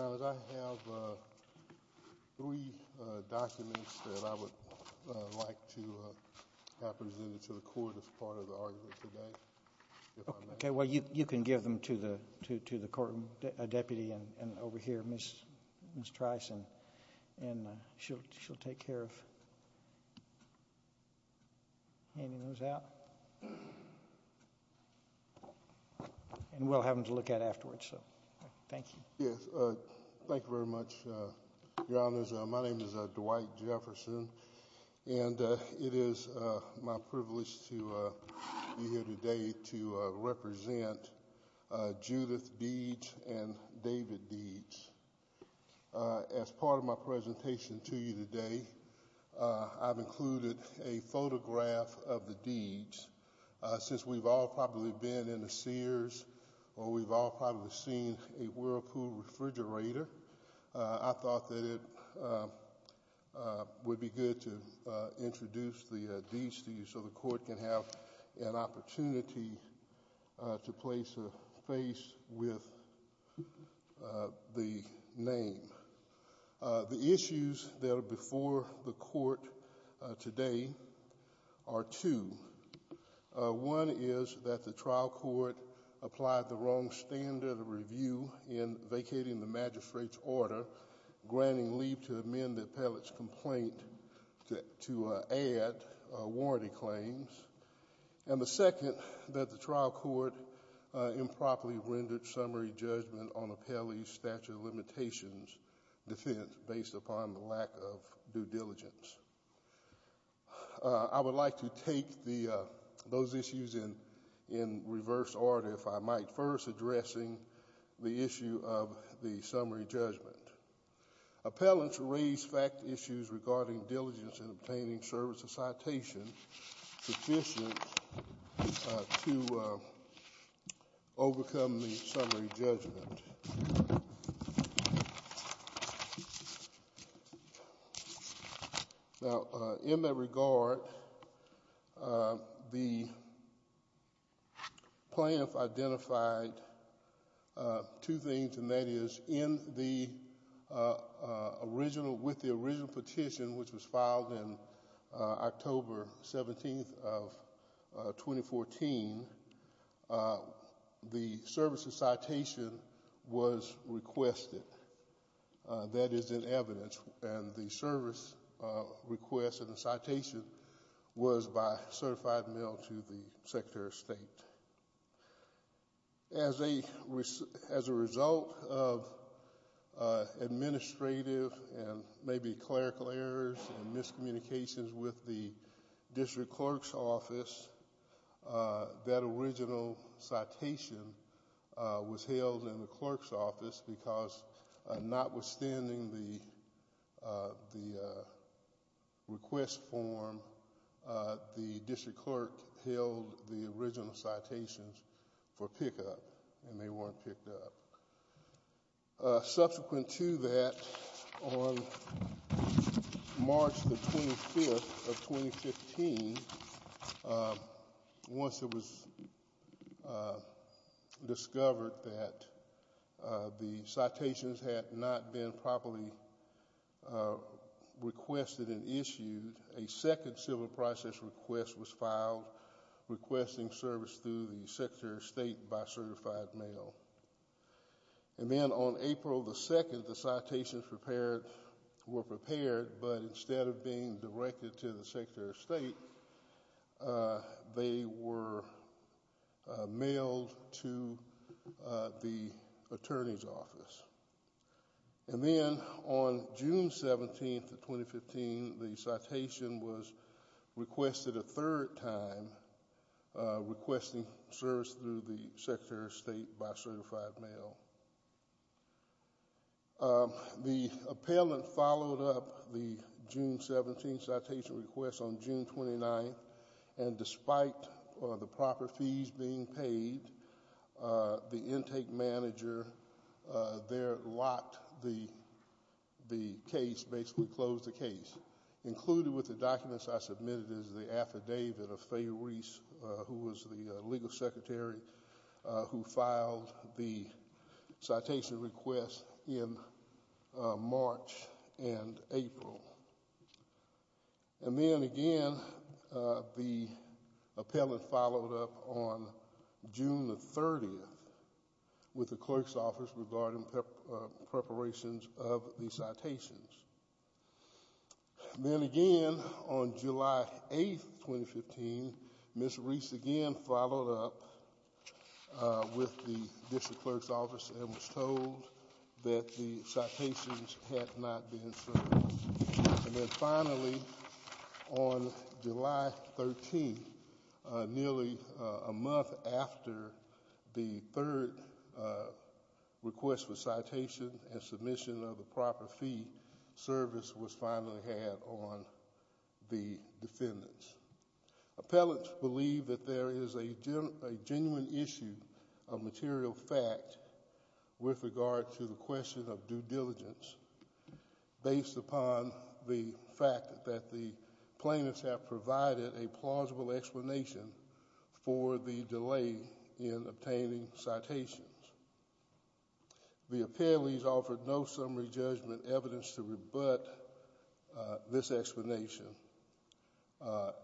I have three documents that I would like to have presented to the court as part of the argument today, if I may. Okay. Well, you can give them to the court, Deputy, and over here, Ms. Tricin, and she'll take care of handing those out, and we'll have them to look at afterwards, so, thank you. Yes, thank you very much, Your Honors. My name is Dwight Jefferson, and it is my privilege to be here today to represent Judith Deeds and David Deeds. As part of my presentation to you today, I've included a photograph of the Deeds. Since we've all probably been in the Sears, or we've all probably seen a Whirlpool refrigerator, I thought that it would be good to introduce the Deeds to you so the court can have an The issues that are before the court today are two. One is that the trial court applied the wrong standard of review in vacating the magistrate's order, granting leave to amend the appellate's complaint to add warranty claims, and the second, that the trial court improperly rendered summary judgment on appellee's statute of limitations defense based upon the lack of due diligence. I would like to take those issues in reverse order, if I might, first addressing the issue of the summary judgment. Appellants raised fact issues regarding diligence in obtaining service of citation sufficient to overcome the summary judgment. Now, in that regard, the plaintiff identified two things, and that is in the original, with the original petition, which was filed in October 17th of 2014, the service of citation was requested. That is in evidence, and the service request of the citation was by certified mail to the Secretary of State. As a result of administrative and maybe clerical errors and miscommunications with the district clerk's office, that original citation was held in the clerk's office because notwithstanding the request form, the district clerk held the original citations for pickup, and they weren't picked up. Subsequent to that, on March 25th of 2015, once it was discovered that the citations had not been properly requested and issued, a second civil process request was filed requesting service through the Secretary of State by certified mail. And then on April 2nd, the citations were prepared, but instead of being directed to the Secretary of State, they were mailed to the attorney's office. And then on June 17th of 2015, the citation was requested a third time, requesting service through the Secretary of State by certified mail. The appellant followed up the June 17th citation request on June 29th, and despite the proper fees being paid, the intake manager there locked the case, basically closed the case. Included with the documents I submitted is the affidavit of Fay Reese, who was the legal secretary who filed the citation request in March and April. And then again, the appellant followed up on June 30th with the clerk's office regarding preparations of the citations. Then again, on July 8th, 2015, Ms. Reese again followed up with the district clerk's office and was told that the citations had not been serviced. And then finally, on July 13th, nearly a month after the third request for citation and submission of the proper fee service was finally had on the defendants. Appellants believe that there is a genuine issue of material fact with regard to the question of due diligence based upon the fact that the plaintiffs have provided a plausible explanation for the delay in obtaining citations. The appellees offered no summary judgment evidence to rebut this explanation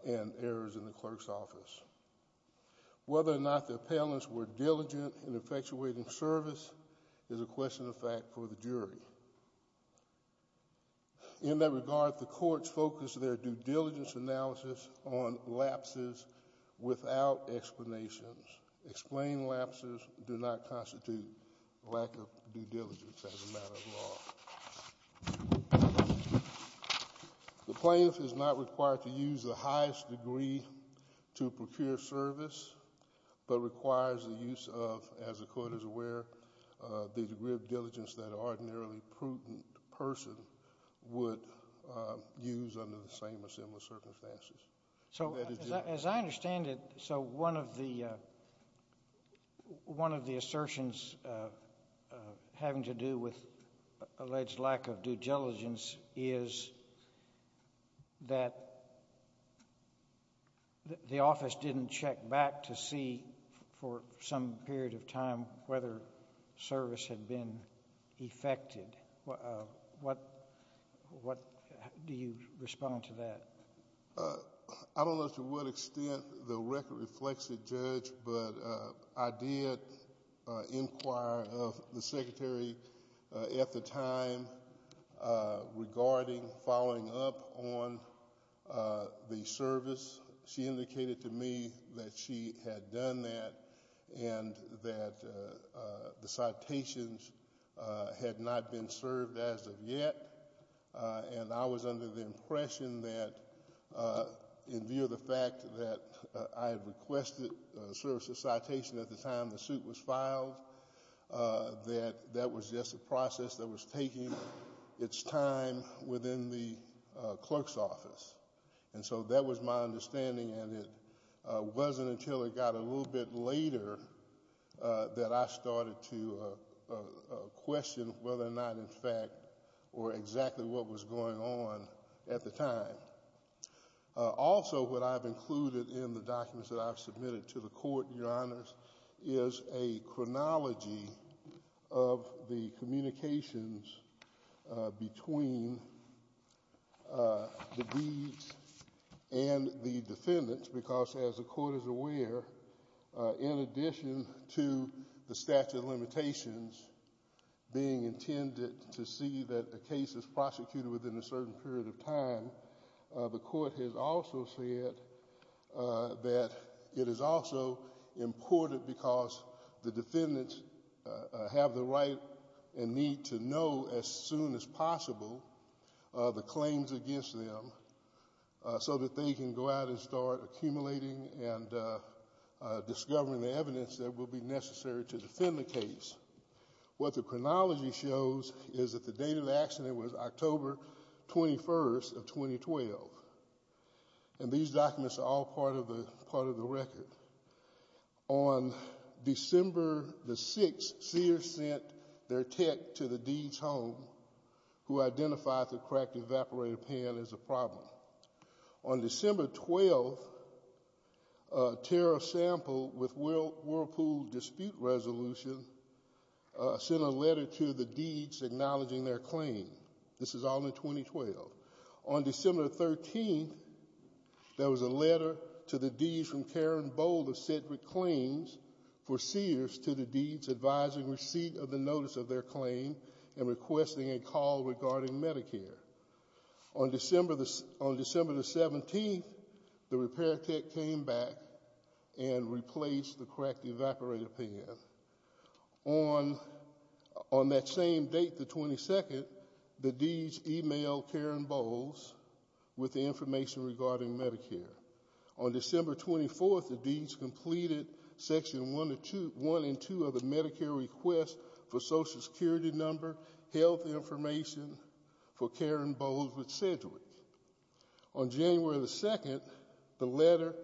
and errors in the clerk's office. Whether or not the appellants were diligent in effectuating service is a question of fact for the jury. In that regard, the courts focused their due diligence analysis on lapses without explanations. Explained lapses do not constitute lack of due diligence as a matter of law. The plaintiff is not required to use the highest degree to procure service, but requires the use of, as the court is aware, the degree of diligence that an ordinarily prudent person would use under the same or similar circumstances. As I understand it, so one of the assertions having to do with alleged lack of due diligence is that the office didn't check back to see for some period of time whether service had been effected. What do you respond to that? I don't know to what extent the record reflects it, Judge, but I did inquire of the secretary at the time regarding following up on the service. She indicated to me that she had done that and that the citations had not been served as of yet, and I was under the impression that, in view of the fact that I had requested the service of citation at the time the suit was filed, that that was just a process that was taking its time within the clerk's office. That was my understanding, and it wasn't until it got a little bit later that I started to question whether or not, in fact, or exactly what was going on at the time. Also, what I've included in the documents that I've submitted to the court, Your Honors, is a chronology of the communications between the deeds and the defendants because, as the court is aware, in addition to the statute of limitations being intended to see that the case is prosecuted within a certain period of time, the court has also said that it is also important because the defendants have the right and need to know as soon as possible the claims against them so that they can go out and start accumulating and discovering the evidence that will be necessary to defend the case. What the chronology shows is that the date of the accident was October 21st of 2012, and these documents are all part of the record. On December 6th, Sears sent their tech to the deeds' home who identified the cracked evaporator pan as a problem. On December 12th, a tariff sample with Whirlpool dispute resolution sent a letter to the deeds acknowledging their claim. This is all in 2012. On December 13th, there was a letter to the deeds from Karen Bold of Cedric Claims for Sears to the deeds advising receipt of the notice of their claim and requesting a call regarding Medicare. On December 17th, the repair tech came back and replaced the cracked evaporator pan. On that same date, the 22nd, the deeds emailed Karen Bold with the information regarding Medicare. On December 24th, the deeds completed section one and two of the Medicare request for social security number, health information for Karen Bold with Cedric. On January 2nd, the letter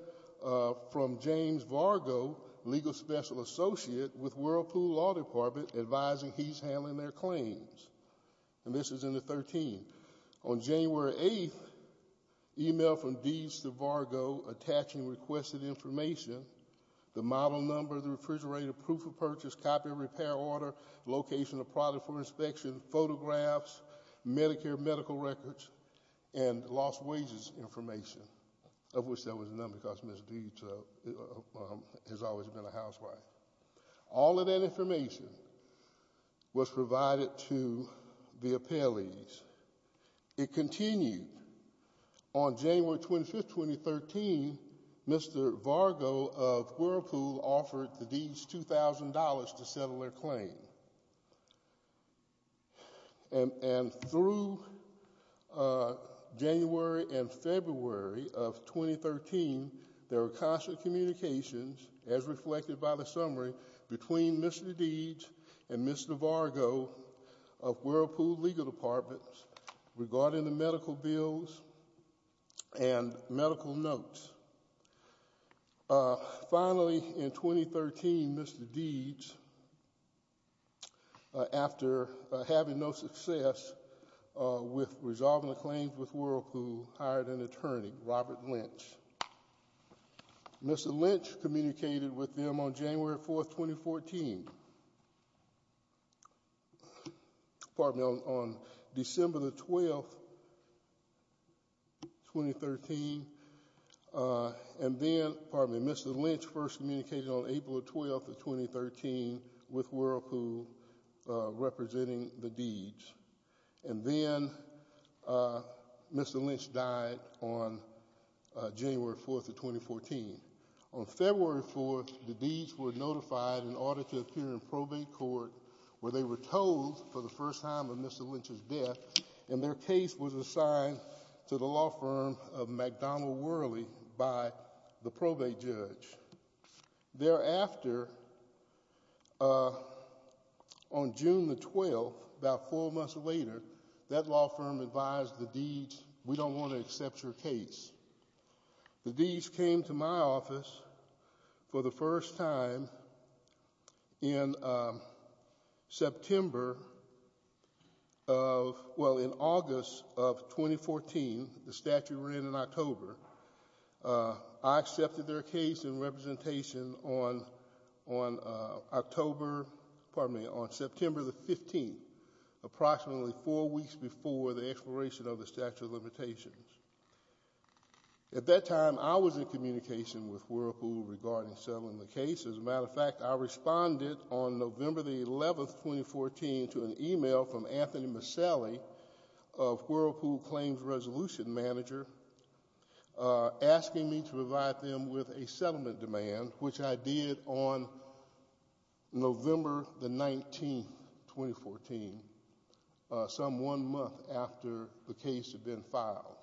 from James Vargo, legal special associate with Whirlpool Law Department advising he's handling their claims. And this is in the 13th. On January 8th, email from deeds to Vargo attaching requested information, the model number, the refrigerator, proof of purchase, copy of repair order, location of product for inspection, photographs, Medicare medical records, and lost wages information, of which there was none because Ms. Deeds has always been a housewife. All of that information was provided to the appellees. It continued. On January 25th, 2013, Mr. Vargo of Whirlpool offered the deeds $2,000 to settle their claim. And through January and February of 2013, there were constant communications, as reflected by the summary, between Mr. Deeds and Mr. Vargo of Whirlpool Legal Department regarding the medical bills and medical notes. Finally, in 2013, Mr. Deeds, after having no success with resolving the claims with Whirlpool, hired an attorney, Robert Lynch. Mr. Lynch communicated with them on January 4th, 2014. Pardon me, on December the 12th, 2013, and then, pardon me, Mr. Lynch first communicated on April the 12th of 2013 with Whirlpool representing the Deeds. And then, Mr. Lynch died on January 4th of 2014. On February 4th, the Deeds were notified in order to appear in probate court, where they were told for the first time of Mr. Lynch's death, and their case was assigned to the law firm of McDonald Whirly by the probate judge. Thereafter, on June the 12th, about four months later, that law firm advised the Deeds, we don't want to accept your case. The Deeds came to my office for the first time in September of, well, in August of 2014, the statute ran in October. I accepted their case in representation on October, pardon me, on September the 15th, approximately four weeks before the expiration of the statute of limitations. At that time, I was in communication with Whirlpool regarding settling the case. As a matter of fact, I responded on November the 11th, 2014, to an email from Anthony Miscellany of Whirlpool Claims Resolution Manager, asking me to provide them with a settlement demand, which I did on November the 19th, 2014, some one month after the case had been filed.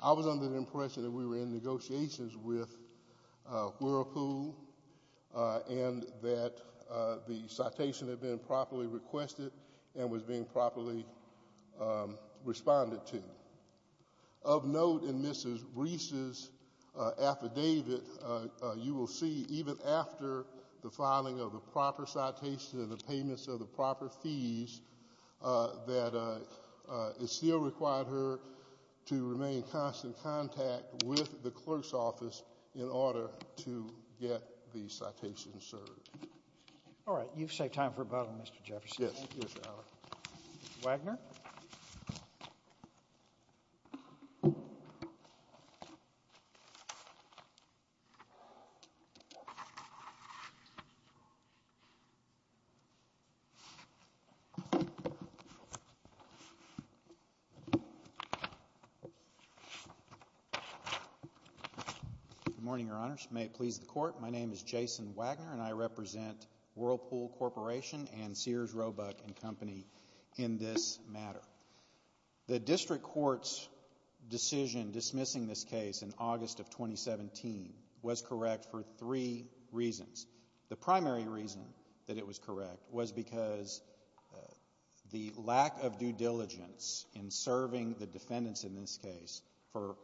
I was under the impression that we were in negotiations with Whirlpool, and that the case had been properly responded to. Of note in Mrs. Reese's affidavit, you will see, even after the filing of the proper citation and the payments of the proper fees, that it still required her to remain in constant contact with the clerk's office in order to get the citation served. All right. You've saved time for rebuttal, Mr. Jefferson. Yes. Mr. Wagner. Good morning, Your Honors. May it please the Court, my name is Jason Wagner, and I represent Whirlpool Corporation and Sears, Roebuck & Company in this matter. The District Court's decision dismissing this case in August of 2017 was correct for three reasons. The primary reason that it was correct was because the lack of due diligence in serving the defendants in this case for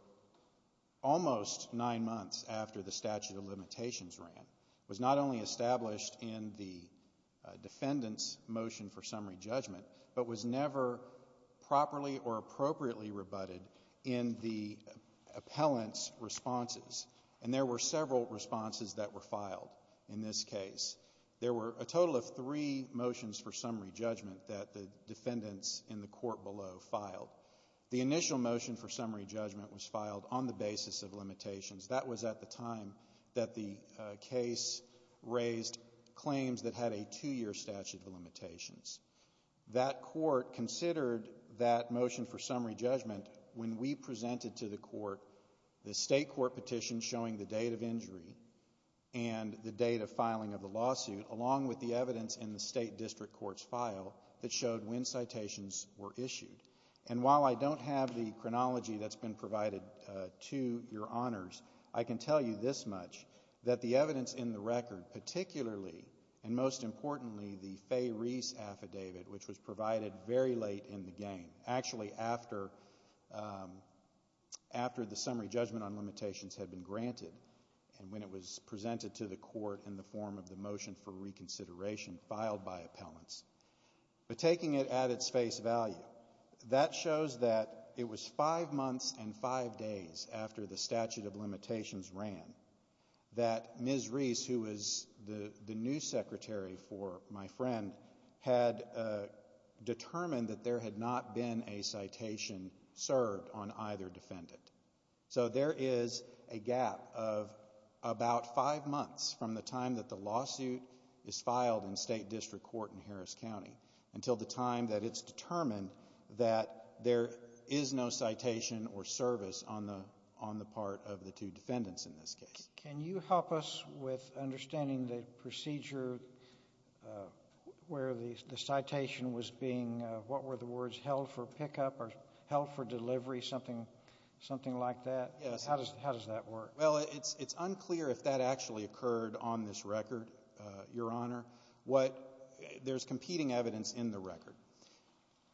almost nine months after the statute of limitations ran was not only established in the defendant's motion for summary judgment, but was never properly or appropriately rebutted in the appellant's responses. And there were several responses that were filed in this case. There were a total of three motions for summary judgment that the defendants in the court below filed. The initial motion for summary judgment was filed on the basis of limitations. That was at the time that the case raised claims that had a two-year statute of limitations. That court considered that motion for summary judgment when we presented to the court the state court petition showing the date of injury and the date of filing of the lawsuit, along with the evidence in the state district court's file that showed when citations were issued. And while I don't have the chronology that's been provided to your honors, I can tell you this much, that the evidence in the record, particularly and most importantly the Fay Reese affidavit, which was provided very late in the game, actually after the summary judgment on limitations had been granted and when it was presented to the court in the form of the motion for reconsideration filed by appellants. But taking it at its face value, that shows that it was five months and five days after the statute of limitations ran that Ms. Reese, who was the new secretary for my friend, had determined that there had not been a citation served on either defendant. So there is a gap of about five months from the time that the lawsuit is filed in state district court in Harris County until the time that it's determined that there is no citation or service on the part of the two defendants in this case. Can you help us with understanding the procedure where the citation was being, what were the words, held for pickup or held for delivery, something like that? Yes. How does that work? Well, it's unclear if that actually occurred on this record, Your Honor. There's competing evidence in the record.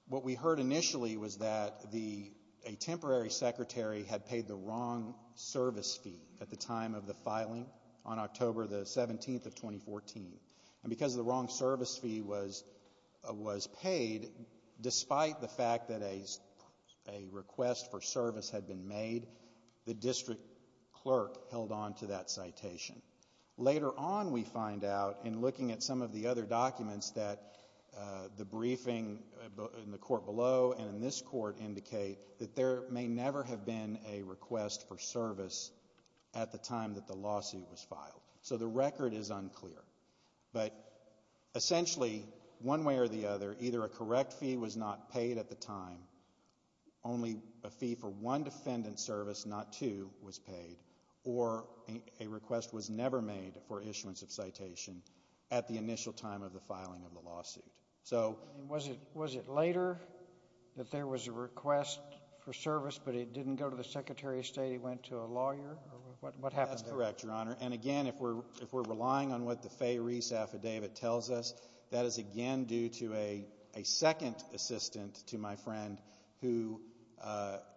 What we heard initially was that a temporary secretary had paid the wrong service fee at the time of the filing on October the 17th of 2014. And because the wrong service fee was paid, despite the fact that a request for service had been made, the district clerk held on to that citation. Later on, we find out in looking at some of the other documents that the briefing in the court below and in this court indicate that there may never have been a request for service at the time that the lawsuit was filed. So the record is unclear. But essentially, one way or the other, either a correct fee was not paid at the time, only a fee for one defendant's service, not two, was paid, or a request was never made for issuance of citation at the initial time of the filing of the lawsuit. Was it later that there was a request for service, but it didn't go to the Secretary of State? It went to a lawyer? What happened there? That's correct, Your Honor. And again, if we're relying on what the Fay-Reese Affidavit tells us, that is again due to a second assistant to my friend who,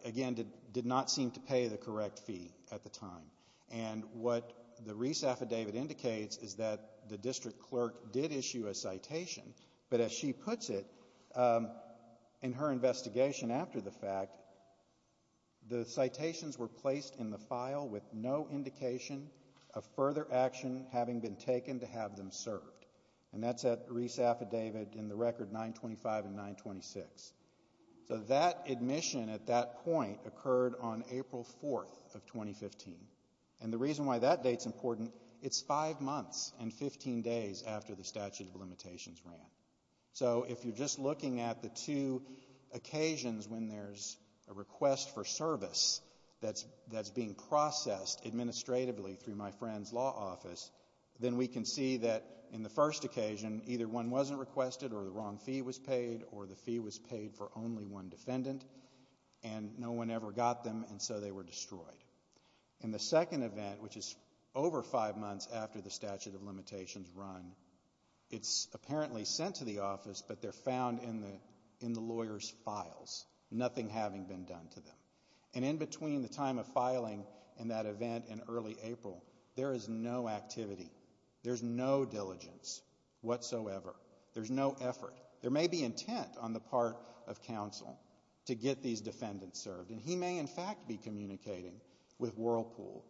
again, did not seem to pay the correct fee at the time. And what the Reese Affidavit indicates is that the district clerk did issue a citation, but as she puts it in her investigation after the fact, the citations were placed in the file with no indication of further action having been taken to have them served. And that's that Reese Affidavit in the record 925 and 926. So that admission at that point occurred on April 4th of 2015. And the reason why that date's important, it's five months and 15 days after the statute of limitations ran. So if you're just looking at the two occasions when there's a request for service that's being processed administratively through my friend's law office, then we can see that in the first occasion, either one wasn't requested or the wrong fee was paid or the fee was paid for only one defendant, and no one ever got them, and so they were destroyed. In the second event, which is over five months after the statute of limitations run, it's apparently sent to the office, but they're found in the lawyer's files, nothing having been done to them. And in between the time of filing and that event in early April, there is no activity. There's no diligence whatsoever. There's no effort. There may be intent on the part of counsel to get these defendants served, and he may in fact be communicating with Whirlpool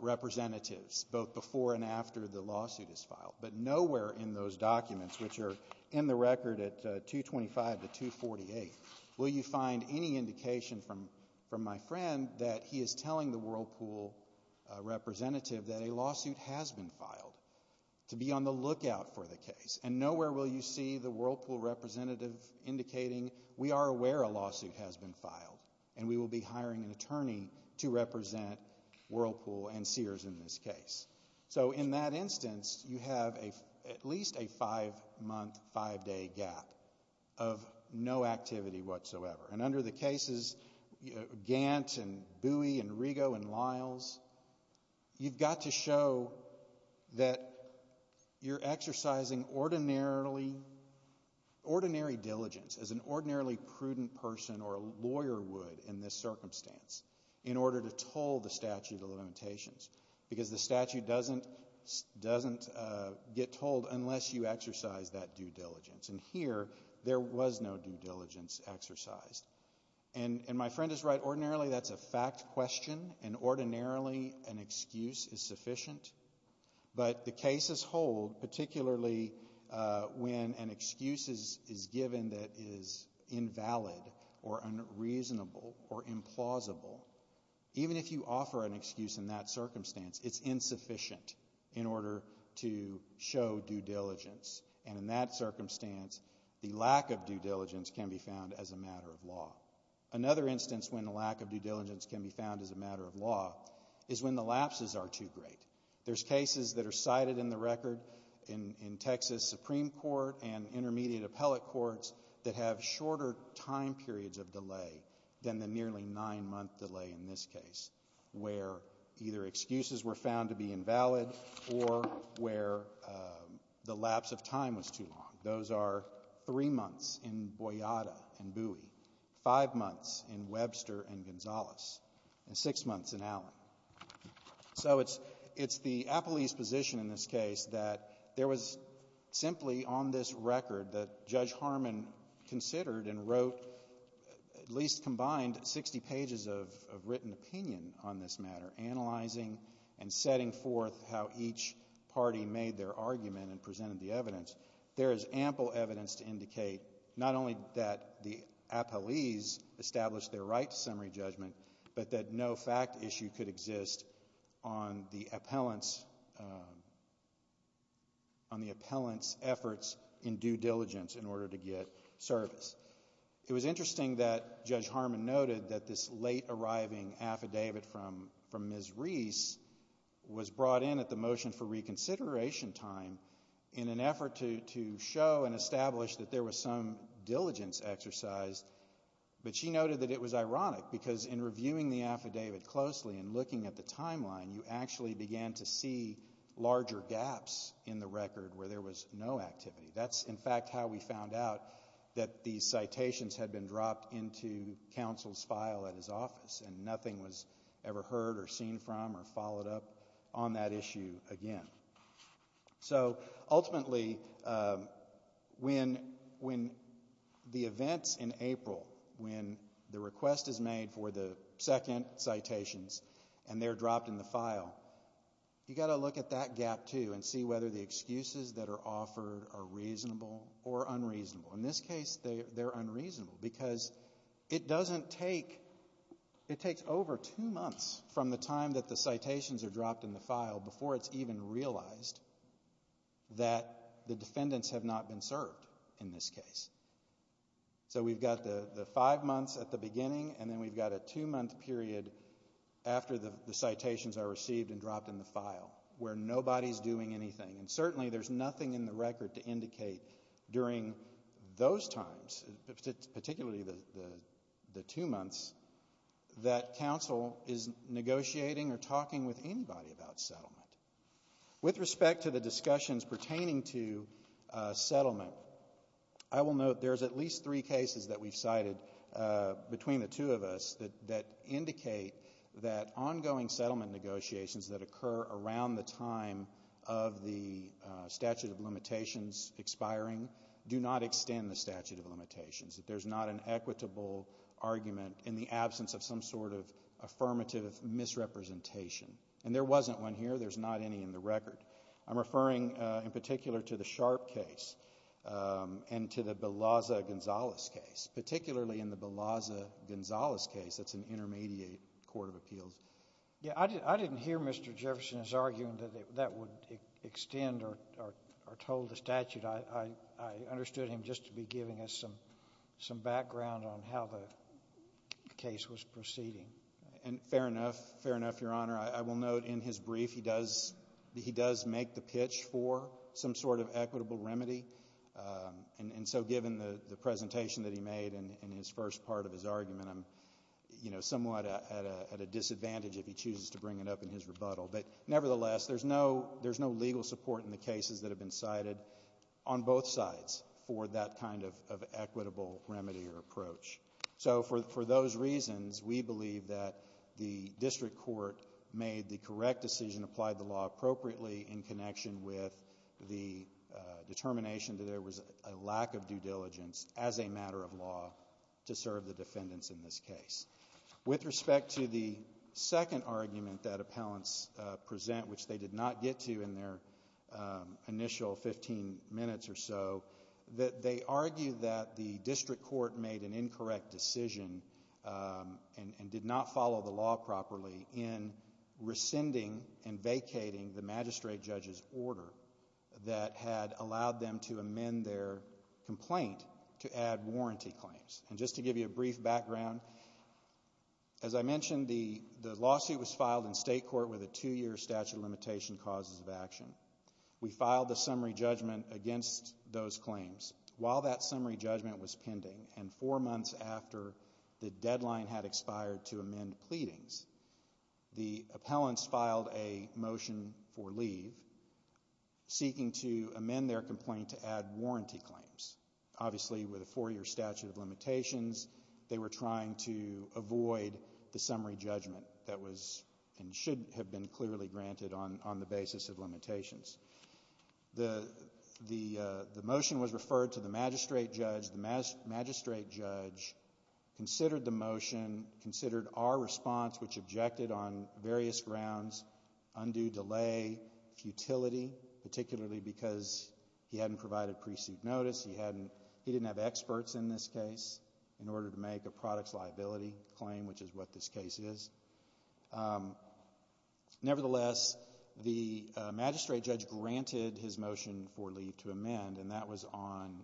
representatives both before and after the lawsuit is filed. But nowhere in those documents, which are in the record at 225 to 248, will you find any indication from my friend that he is telling the Whirlpool representative that a lawsuit has been filed, to be on the lookout for the case. And nowhere will you see the Whirlpool representative indicating, we are aware a lawsuit has been filed, and we will be hiring an attorney to represent Whirlpool and Sears in this case. So, in that instance, you have at least a five-month, five-day gap of no activity whatsoever. And under the cases, Gant and Bowie and Rigo and Lyles, you've got to show that you're exercising ordinary diligence, as an ordinarily prudent person or a lawyer would in this circumstance, in order to toll the statute of limitations. Because the statute doesn't get tolled unless you exercise that due diligence. And here, there was no due diligence exercised. And my friend is right. Ordinarily, that's a fact question. And ordinarily, an excuse is sufficient. But the cases hold, particularly when an excuse is given that is invalid or unreasonable or implausible, even if you offer an excuse in that circumstance, it's insufficient in order to show due diligence. And in that circumstance, the lack of due diligence can be found as a matter of law. Another instance when the lack of due diligence can be found as a matter of law is when the lapses are too great. There's cases that are cited in the record in Texas Supreme Court and intermediate appellate courts that have shorter time periods of delay than the nearly nine-month delay in this case, where either excuses were found to be invalid or where the lapse of time was too long. Those are three months in Boyada and Bowie, five months in Webster and Gonzales, and six months in Allen. So it's the appellee's position in this case that there was simply on this record that at least combined 60 pages of written opinion on this matter, analyzing and setting forth how each party made their argument and presented the evidence, there is ample evidence to indicate not only that the appellees established their right to summary judgment, but that no fact issue could exist on the appellant's efforts in due diligence in order to get service. It was interesting that Judge Harmon noted that this late-arriving affidavit from Ms. Reese was brought in at the motion for reconsideration time in an effort to show and establish that there was some diligence exercised, but she noted that it was ironic because in reviewing the affidavit closely and looking at the timeline, you actually began to see larger gaps in the record where there was no activity. That's in fact how we found out that the citations had been dropped into counsel's file at his office and nothing was ever heard or seen from or followed up on that issue again. So ultimately, when the events in April, when the request is made for the second citations and they're dropped in the file, you've got to look at that gap, too, and see whether the excuses that are offered are reasonable or unreasonable. In this case, they're unreasonable because it takes over two months from the time that the citations are dropped in the file before it's even realized that the defendants have not been served in this case. So we've got the five months at the beginning, and then we've got a two-month period after the citations are received and dropped in the file where nobody's doing anything. And certainly there's nothing in the record to indicate during those times, particularly the two months, that counsel is negotiating or talking with anybody about settlement. With respect to the discussions pertaining to settlement, I will note there's at least three cases that we've cited between the two of us that indicate that ongoing settlement negotiations that occur around the time of the statute of limitations expiring do not extend the statute of limitations, that there's not an equitable argument in the absence of some sort of affirmative misrepresentation. And there wasn't one here. There's not any in the record. I'm referring in particular to the Sharp case and to the Balaza-Gonzalez case, particularly in the Balaza-Gonzalez case that's an intermediate court of appeals. Yeah, I didn't hear Mr. Jefferson's argument that that would extend or toll the statute. I understood him just to be giving us some background on how the case was proceeding. And fair enough, fair enough, Your Honor. I will note in his brief he does make the pitch for some sort of equitable remedy. And so given the presentation that he made and his first part of his argument, I'm, you know, at a disadvantage if he chooses to bring it up in his rebuttal. But nevertheless, there's no legal support in the cases that have been cited on both sides for that kind of equitable remedy or approach. So for those reasons, we believe that the district court made the correct decision, applied the law appropriately in connection with the determination that there was a lack of due diligence as a matter of law to serve the defendants in this case. With respect to the second argument that appellants present, which they did not get to in their initial 15 minutes or so, that they argue that the district court made an incorrect decision and did not follow the law properly in rescinding and vacating the magistrate judge's order that had allowed them to amend their complaint to add warranty claims. And just to give you a brief background, as I mentioned, the lawsuit was filed in state court with a two-year statute of limitation causes of action. We filed a summary judgment against those claims. While that summary judgment was pending and four months after the deadline had expired to amend pleadings, the appellants filed a motion for leave seeking to amend their complaint to add warranty claims, obviously with a four-year statute of limitations. They were trying to avoid the summary judgment that was and should have been clearly granted on the basis of limitations. The motion was referred to the magistrate judge. The magistrate judge considered the motion, considered our response, which objected on various grounds, undue delay, futility, particularly because he hadn't provided precede notice. He didn't have experts in this case in order to make a products liability claim, which is what this case is. Nevertheless, the magistrate judge granted his motion for leave to amend, and that was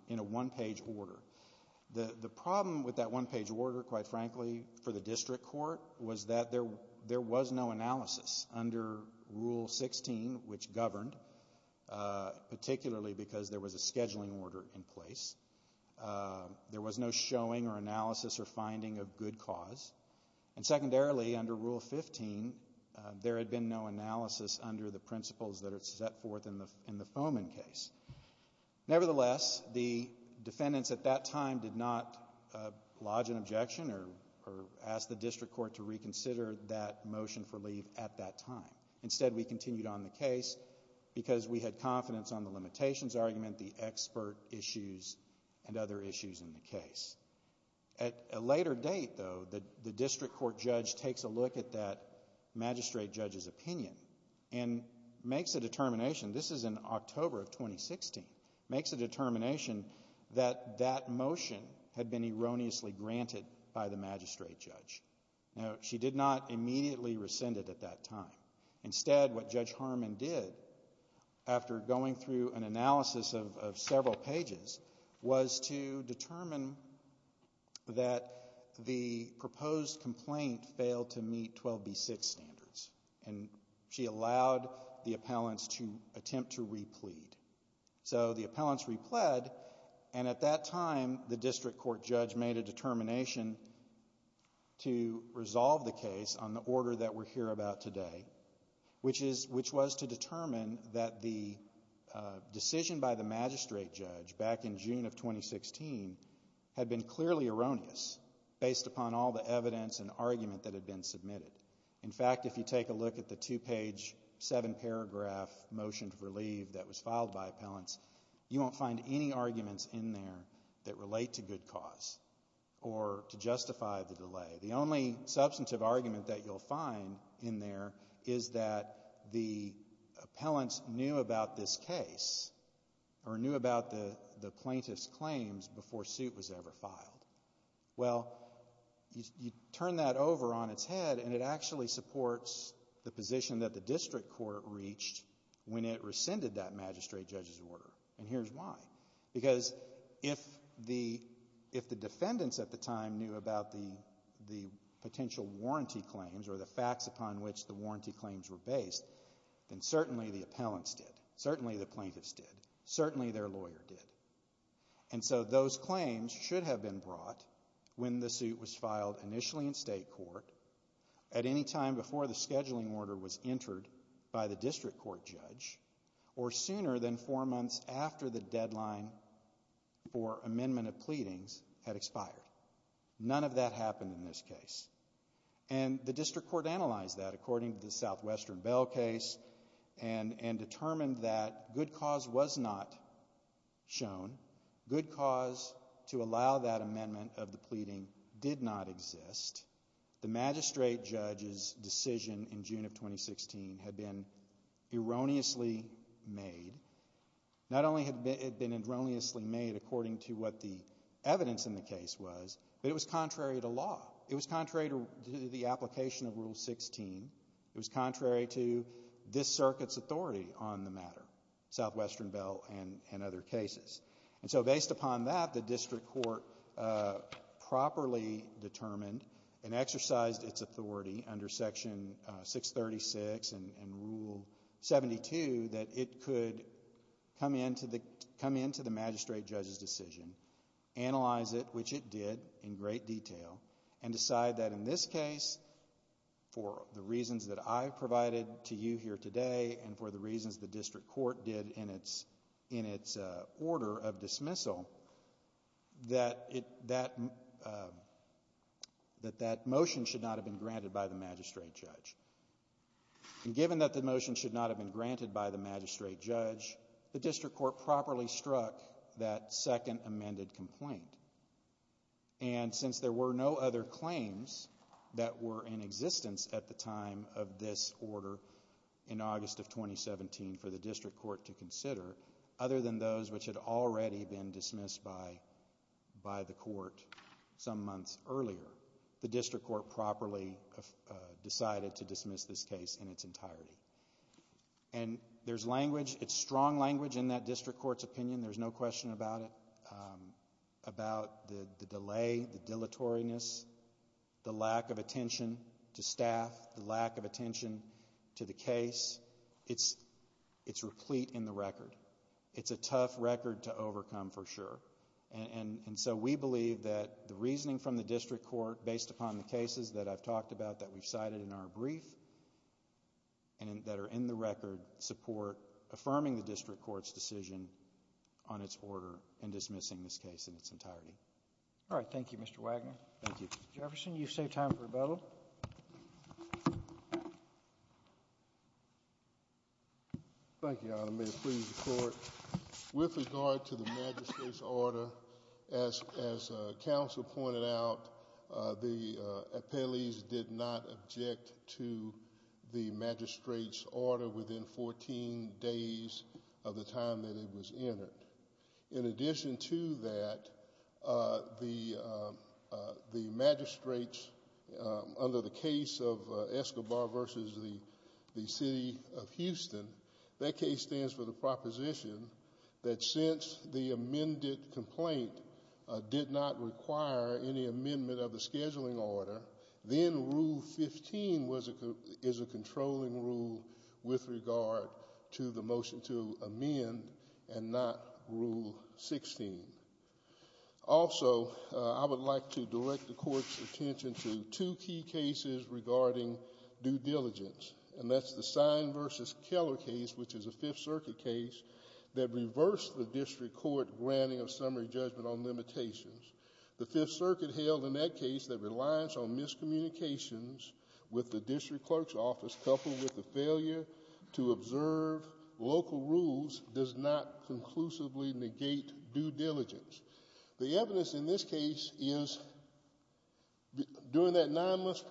in a one-page order. The problem with that one-page order, quite frankly, for the district court was that there was no analysis under Rule 16, which governed, particularly because there was a scheduling order in place. There was no showing or analysis or finding of good cause. And secondarily, under Rule 15, there had been no analysis under the principles that are set forth in the Fomen case. Nevertheless, the defendants at that time did not lodge an objection or ask the district court to reconsider that motion for leave at that time. Instead, we continued on the case because we had confidence on the limitations argument, the expert issues, and other issues in the case. At a later date, though, the district court judge takes a look at that magistrate judge's opinion and makes a determination. This is in October of 2016. Makes a determination that that motion had been erroneously granted by the magistrate judge. Now, she did not immediately rescind it at that time. Instead, what Judge Harmon did, after going through an analysis of several pages, was to determine that the proposed complaint failed to meet 12B6 standards. And she allowed the appellants to attempt to re-plead. So the appellants re-pled, and at that time the district court judge made a determination to resolve the case on the order that we're here about today, which was to determine that the decision by the magistrate judge back in June of 2016 had been clearly erroneous based upon all the evidence and argument that had been submitted. In fact, if you take a look at the two-page, seven-paragraph motion to relieve that was filed by appellants, you won't find any arguments in there that relate to good cause or to justify the delay. The only substantive argument that you'll find in there is that the appellants knew about this case or knew about the plaintiff's claims before suit was ever filed. Well, you turn that over on its head and it actually supports the position that the district court reached when it rescinded that magistrate judge's order. And here's why. Because if the defendants at the time knew about the potential warranty claims or the facts upon which the warranty claims were based, then certainly the appellants did, certainly the plaintiffs did, certainly their lawyer did. And so those claims should have been brought when the suit was filed initially in state court at any time before the scheduling order was entered by the district court judge or sooner than four months after the deadline for amendment of pleadings had expired. None of that happened in this case. And the district court analyzed that according to the Southwestern Bell case and determined that good cause was not shown. Good cause to allow that amendment of the pleading did not exist. The magistrate judge's decision in June of 2016 had been erroneously made. Not only had it been erroneously made according to what the evidence in the case was, but it was contrary to law. It was contrary to the application of Rule 16. It was contrary to this circuit's authority on the matter, Southwestern Bell and other cases. And so based upon that, the district court properly determined and exercised its authority under Section 636 and Rule 72 that it could come into the magistrate judge's decision, analyze it, which it did in great detail, and decide that in this case, for the reasons that I provided to you here today and for the reasons the district court did in its order of dismissal, that that motion should not have been granted by the magistrate judge. And given that the motion should not have been granted by the magistrate judge, the district court properly struck that second amended complaint. And since there were no other claims that were in existence at the time of this order in August of 2017 for the district court to consider, other than those which had already been dismissed by the court some months earlier, the district court properly decided to dismiss this case in its entirety. And there's language. It's strong language in that district court's opinion. There's no question about it, about the delay, the dilatoriness, the lack of attention to staff, the lack of attention to the case. It's replete in the record. It's a tough record to overcome for sure. And so we believe that the reasoning from the district court, based upon the cases that I've talked about that we've cited in our brief and that are in the record support affirming the district court's decision on its order and dismissing this case in its entirety. All right. Thank you, Mr. Wagner. Thank you. Mr. Jefferson, you've saved time for rebuttal. Thank you, Your Honor. May it please the Court. With regard to the magistrate's order, as counsel pointed out, the appellees did not object to the magistrate's order within 14 days of the time that it was entered. In addition to that, the magistrate's, under the case of Escobar versus the city of Houston, that case stands for the proposition that since the amended complaint did not require any amendment of the scheduling order, then Rule 15 is a controlling rule with regard to the motion to amend and not Rule 16. Also, I would like to direct the Court's attention to two key cases regarding due diligence, and that's the Sign versus Keller case, which is a Fifth Circuit case, that reversed the district court granting of summary judgment on limitations. The Fifth Circuit held in that case that reliance on miscommunications with the district clerk's office coupled with the failure to observe local rules does not conclusively negate due diligence. The evidence in this case is during that nine-month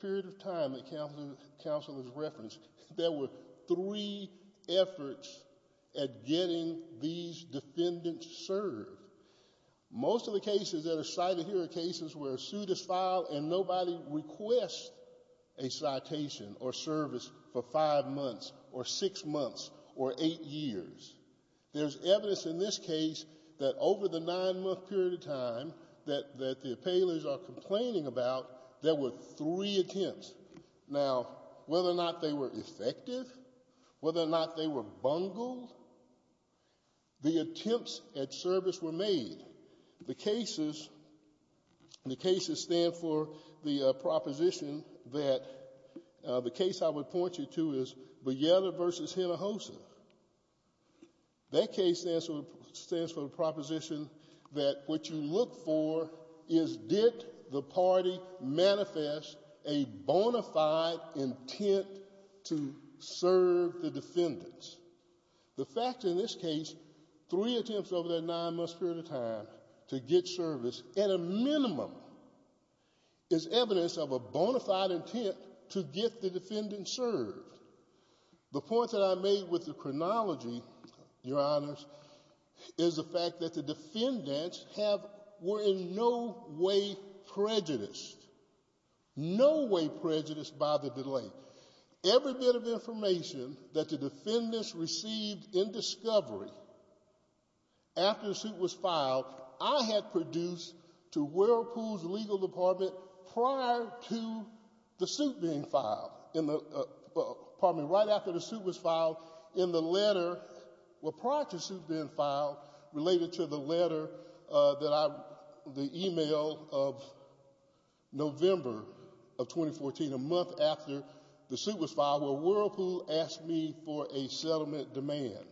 period of time that counsel has referenced, there were three efforts at getting these defendants served. Most of the cases that are cited here are cases where a suit is filed and nobody requests a citation or service for five months or six months or eight years. There's evidence in this case that over the nine-month period of time that the appellants are complaining about, there were three attempts. Now, whether or not they were effective, whether or not they were bungled, the attempts at service were made. The cases, the cases stand for the proposition that the case I would point you to is Beyela versus Hinojosa. That case stands for the proposition that what you look for is did the party manifest a bona fide intent to serve the defendants. The fact in this case, three attempts over that nine-month period of time to get service at a minimum is evidence of a bona fide intent to get the defendant served. The point that I made with the chronology, Your Honors, is the fact that the defendants were in no way prejudiced. No way prejudiced by the delay. Every bit of information that the defendants received in discovery after the suit was filed, I had produced to Whirlpool's legal department prior to the suit being filed in the, pardon me, right after the suit was filed in the letter, well, prior to the suit being filed, related to the letter that I, the email of November of 2014, a month after the suit was filed, where Whirlpool asked me for a settlement demand.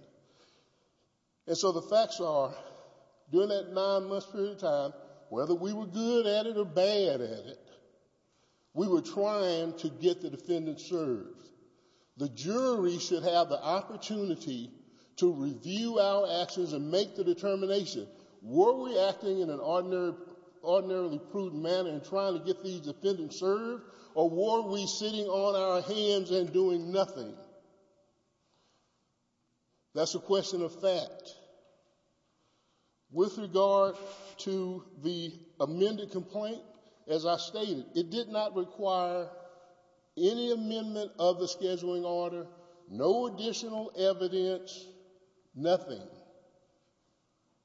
And so the facts are, during that nine-month period of time, whether we were good at it or bad at it, we were trying to get the defendant served. The jury should have the opportunity to review our actions and make the determination, were we acting in an ordinarily prudent manner in trying to get these defendants served, or were we sitting on our hands and doing nothing? That's a question of fact. With regard to the amended complaint, as I stated, it did not require any amendment of the scheduling order, no additional evidence, nothing.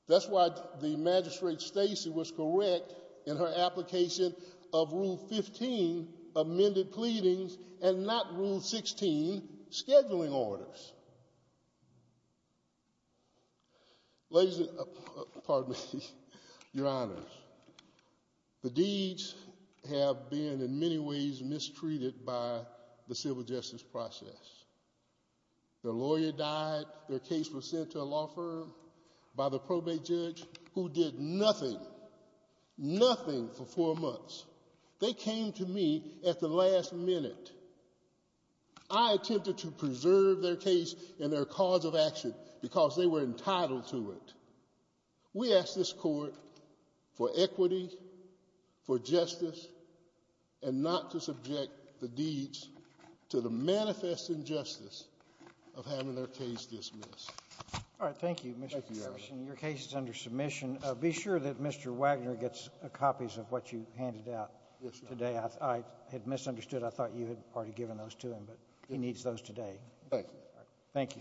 That's why the magistrate, Stacy, was correct in her application of Rule 15 amended pleadings and not Rule 16 scheduling orders. Ladies and, pardon me, Your Honors, the deeds have been in many ways mistreated by the civil justice process. The lawyer died. Their case was sent to a law firm by the probate judge who did nothing, nothing for four months. They came to me at the last minute. I attempted to preserve their case and their cause of action because they were entitled to it. We ask this Court for equity, for justice, and not to subject the deeds to the manifest injustice of having their case dismissed. All right. Thank you, Mr. Ferguson. Your case is under submission. Be sure that Mr. Wagner gets copies of what you handed out today. I had misunderstood. I thought you had already given those to him, but he needs those today. Thank you. Thank you.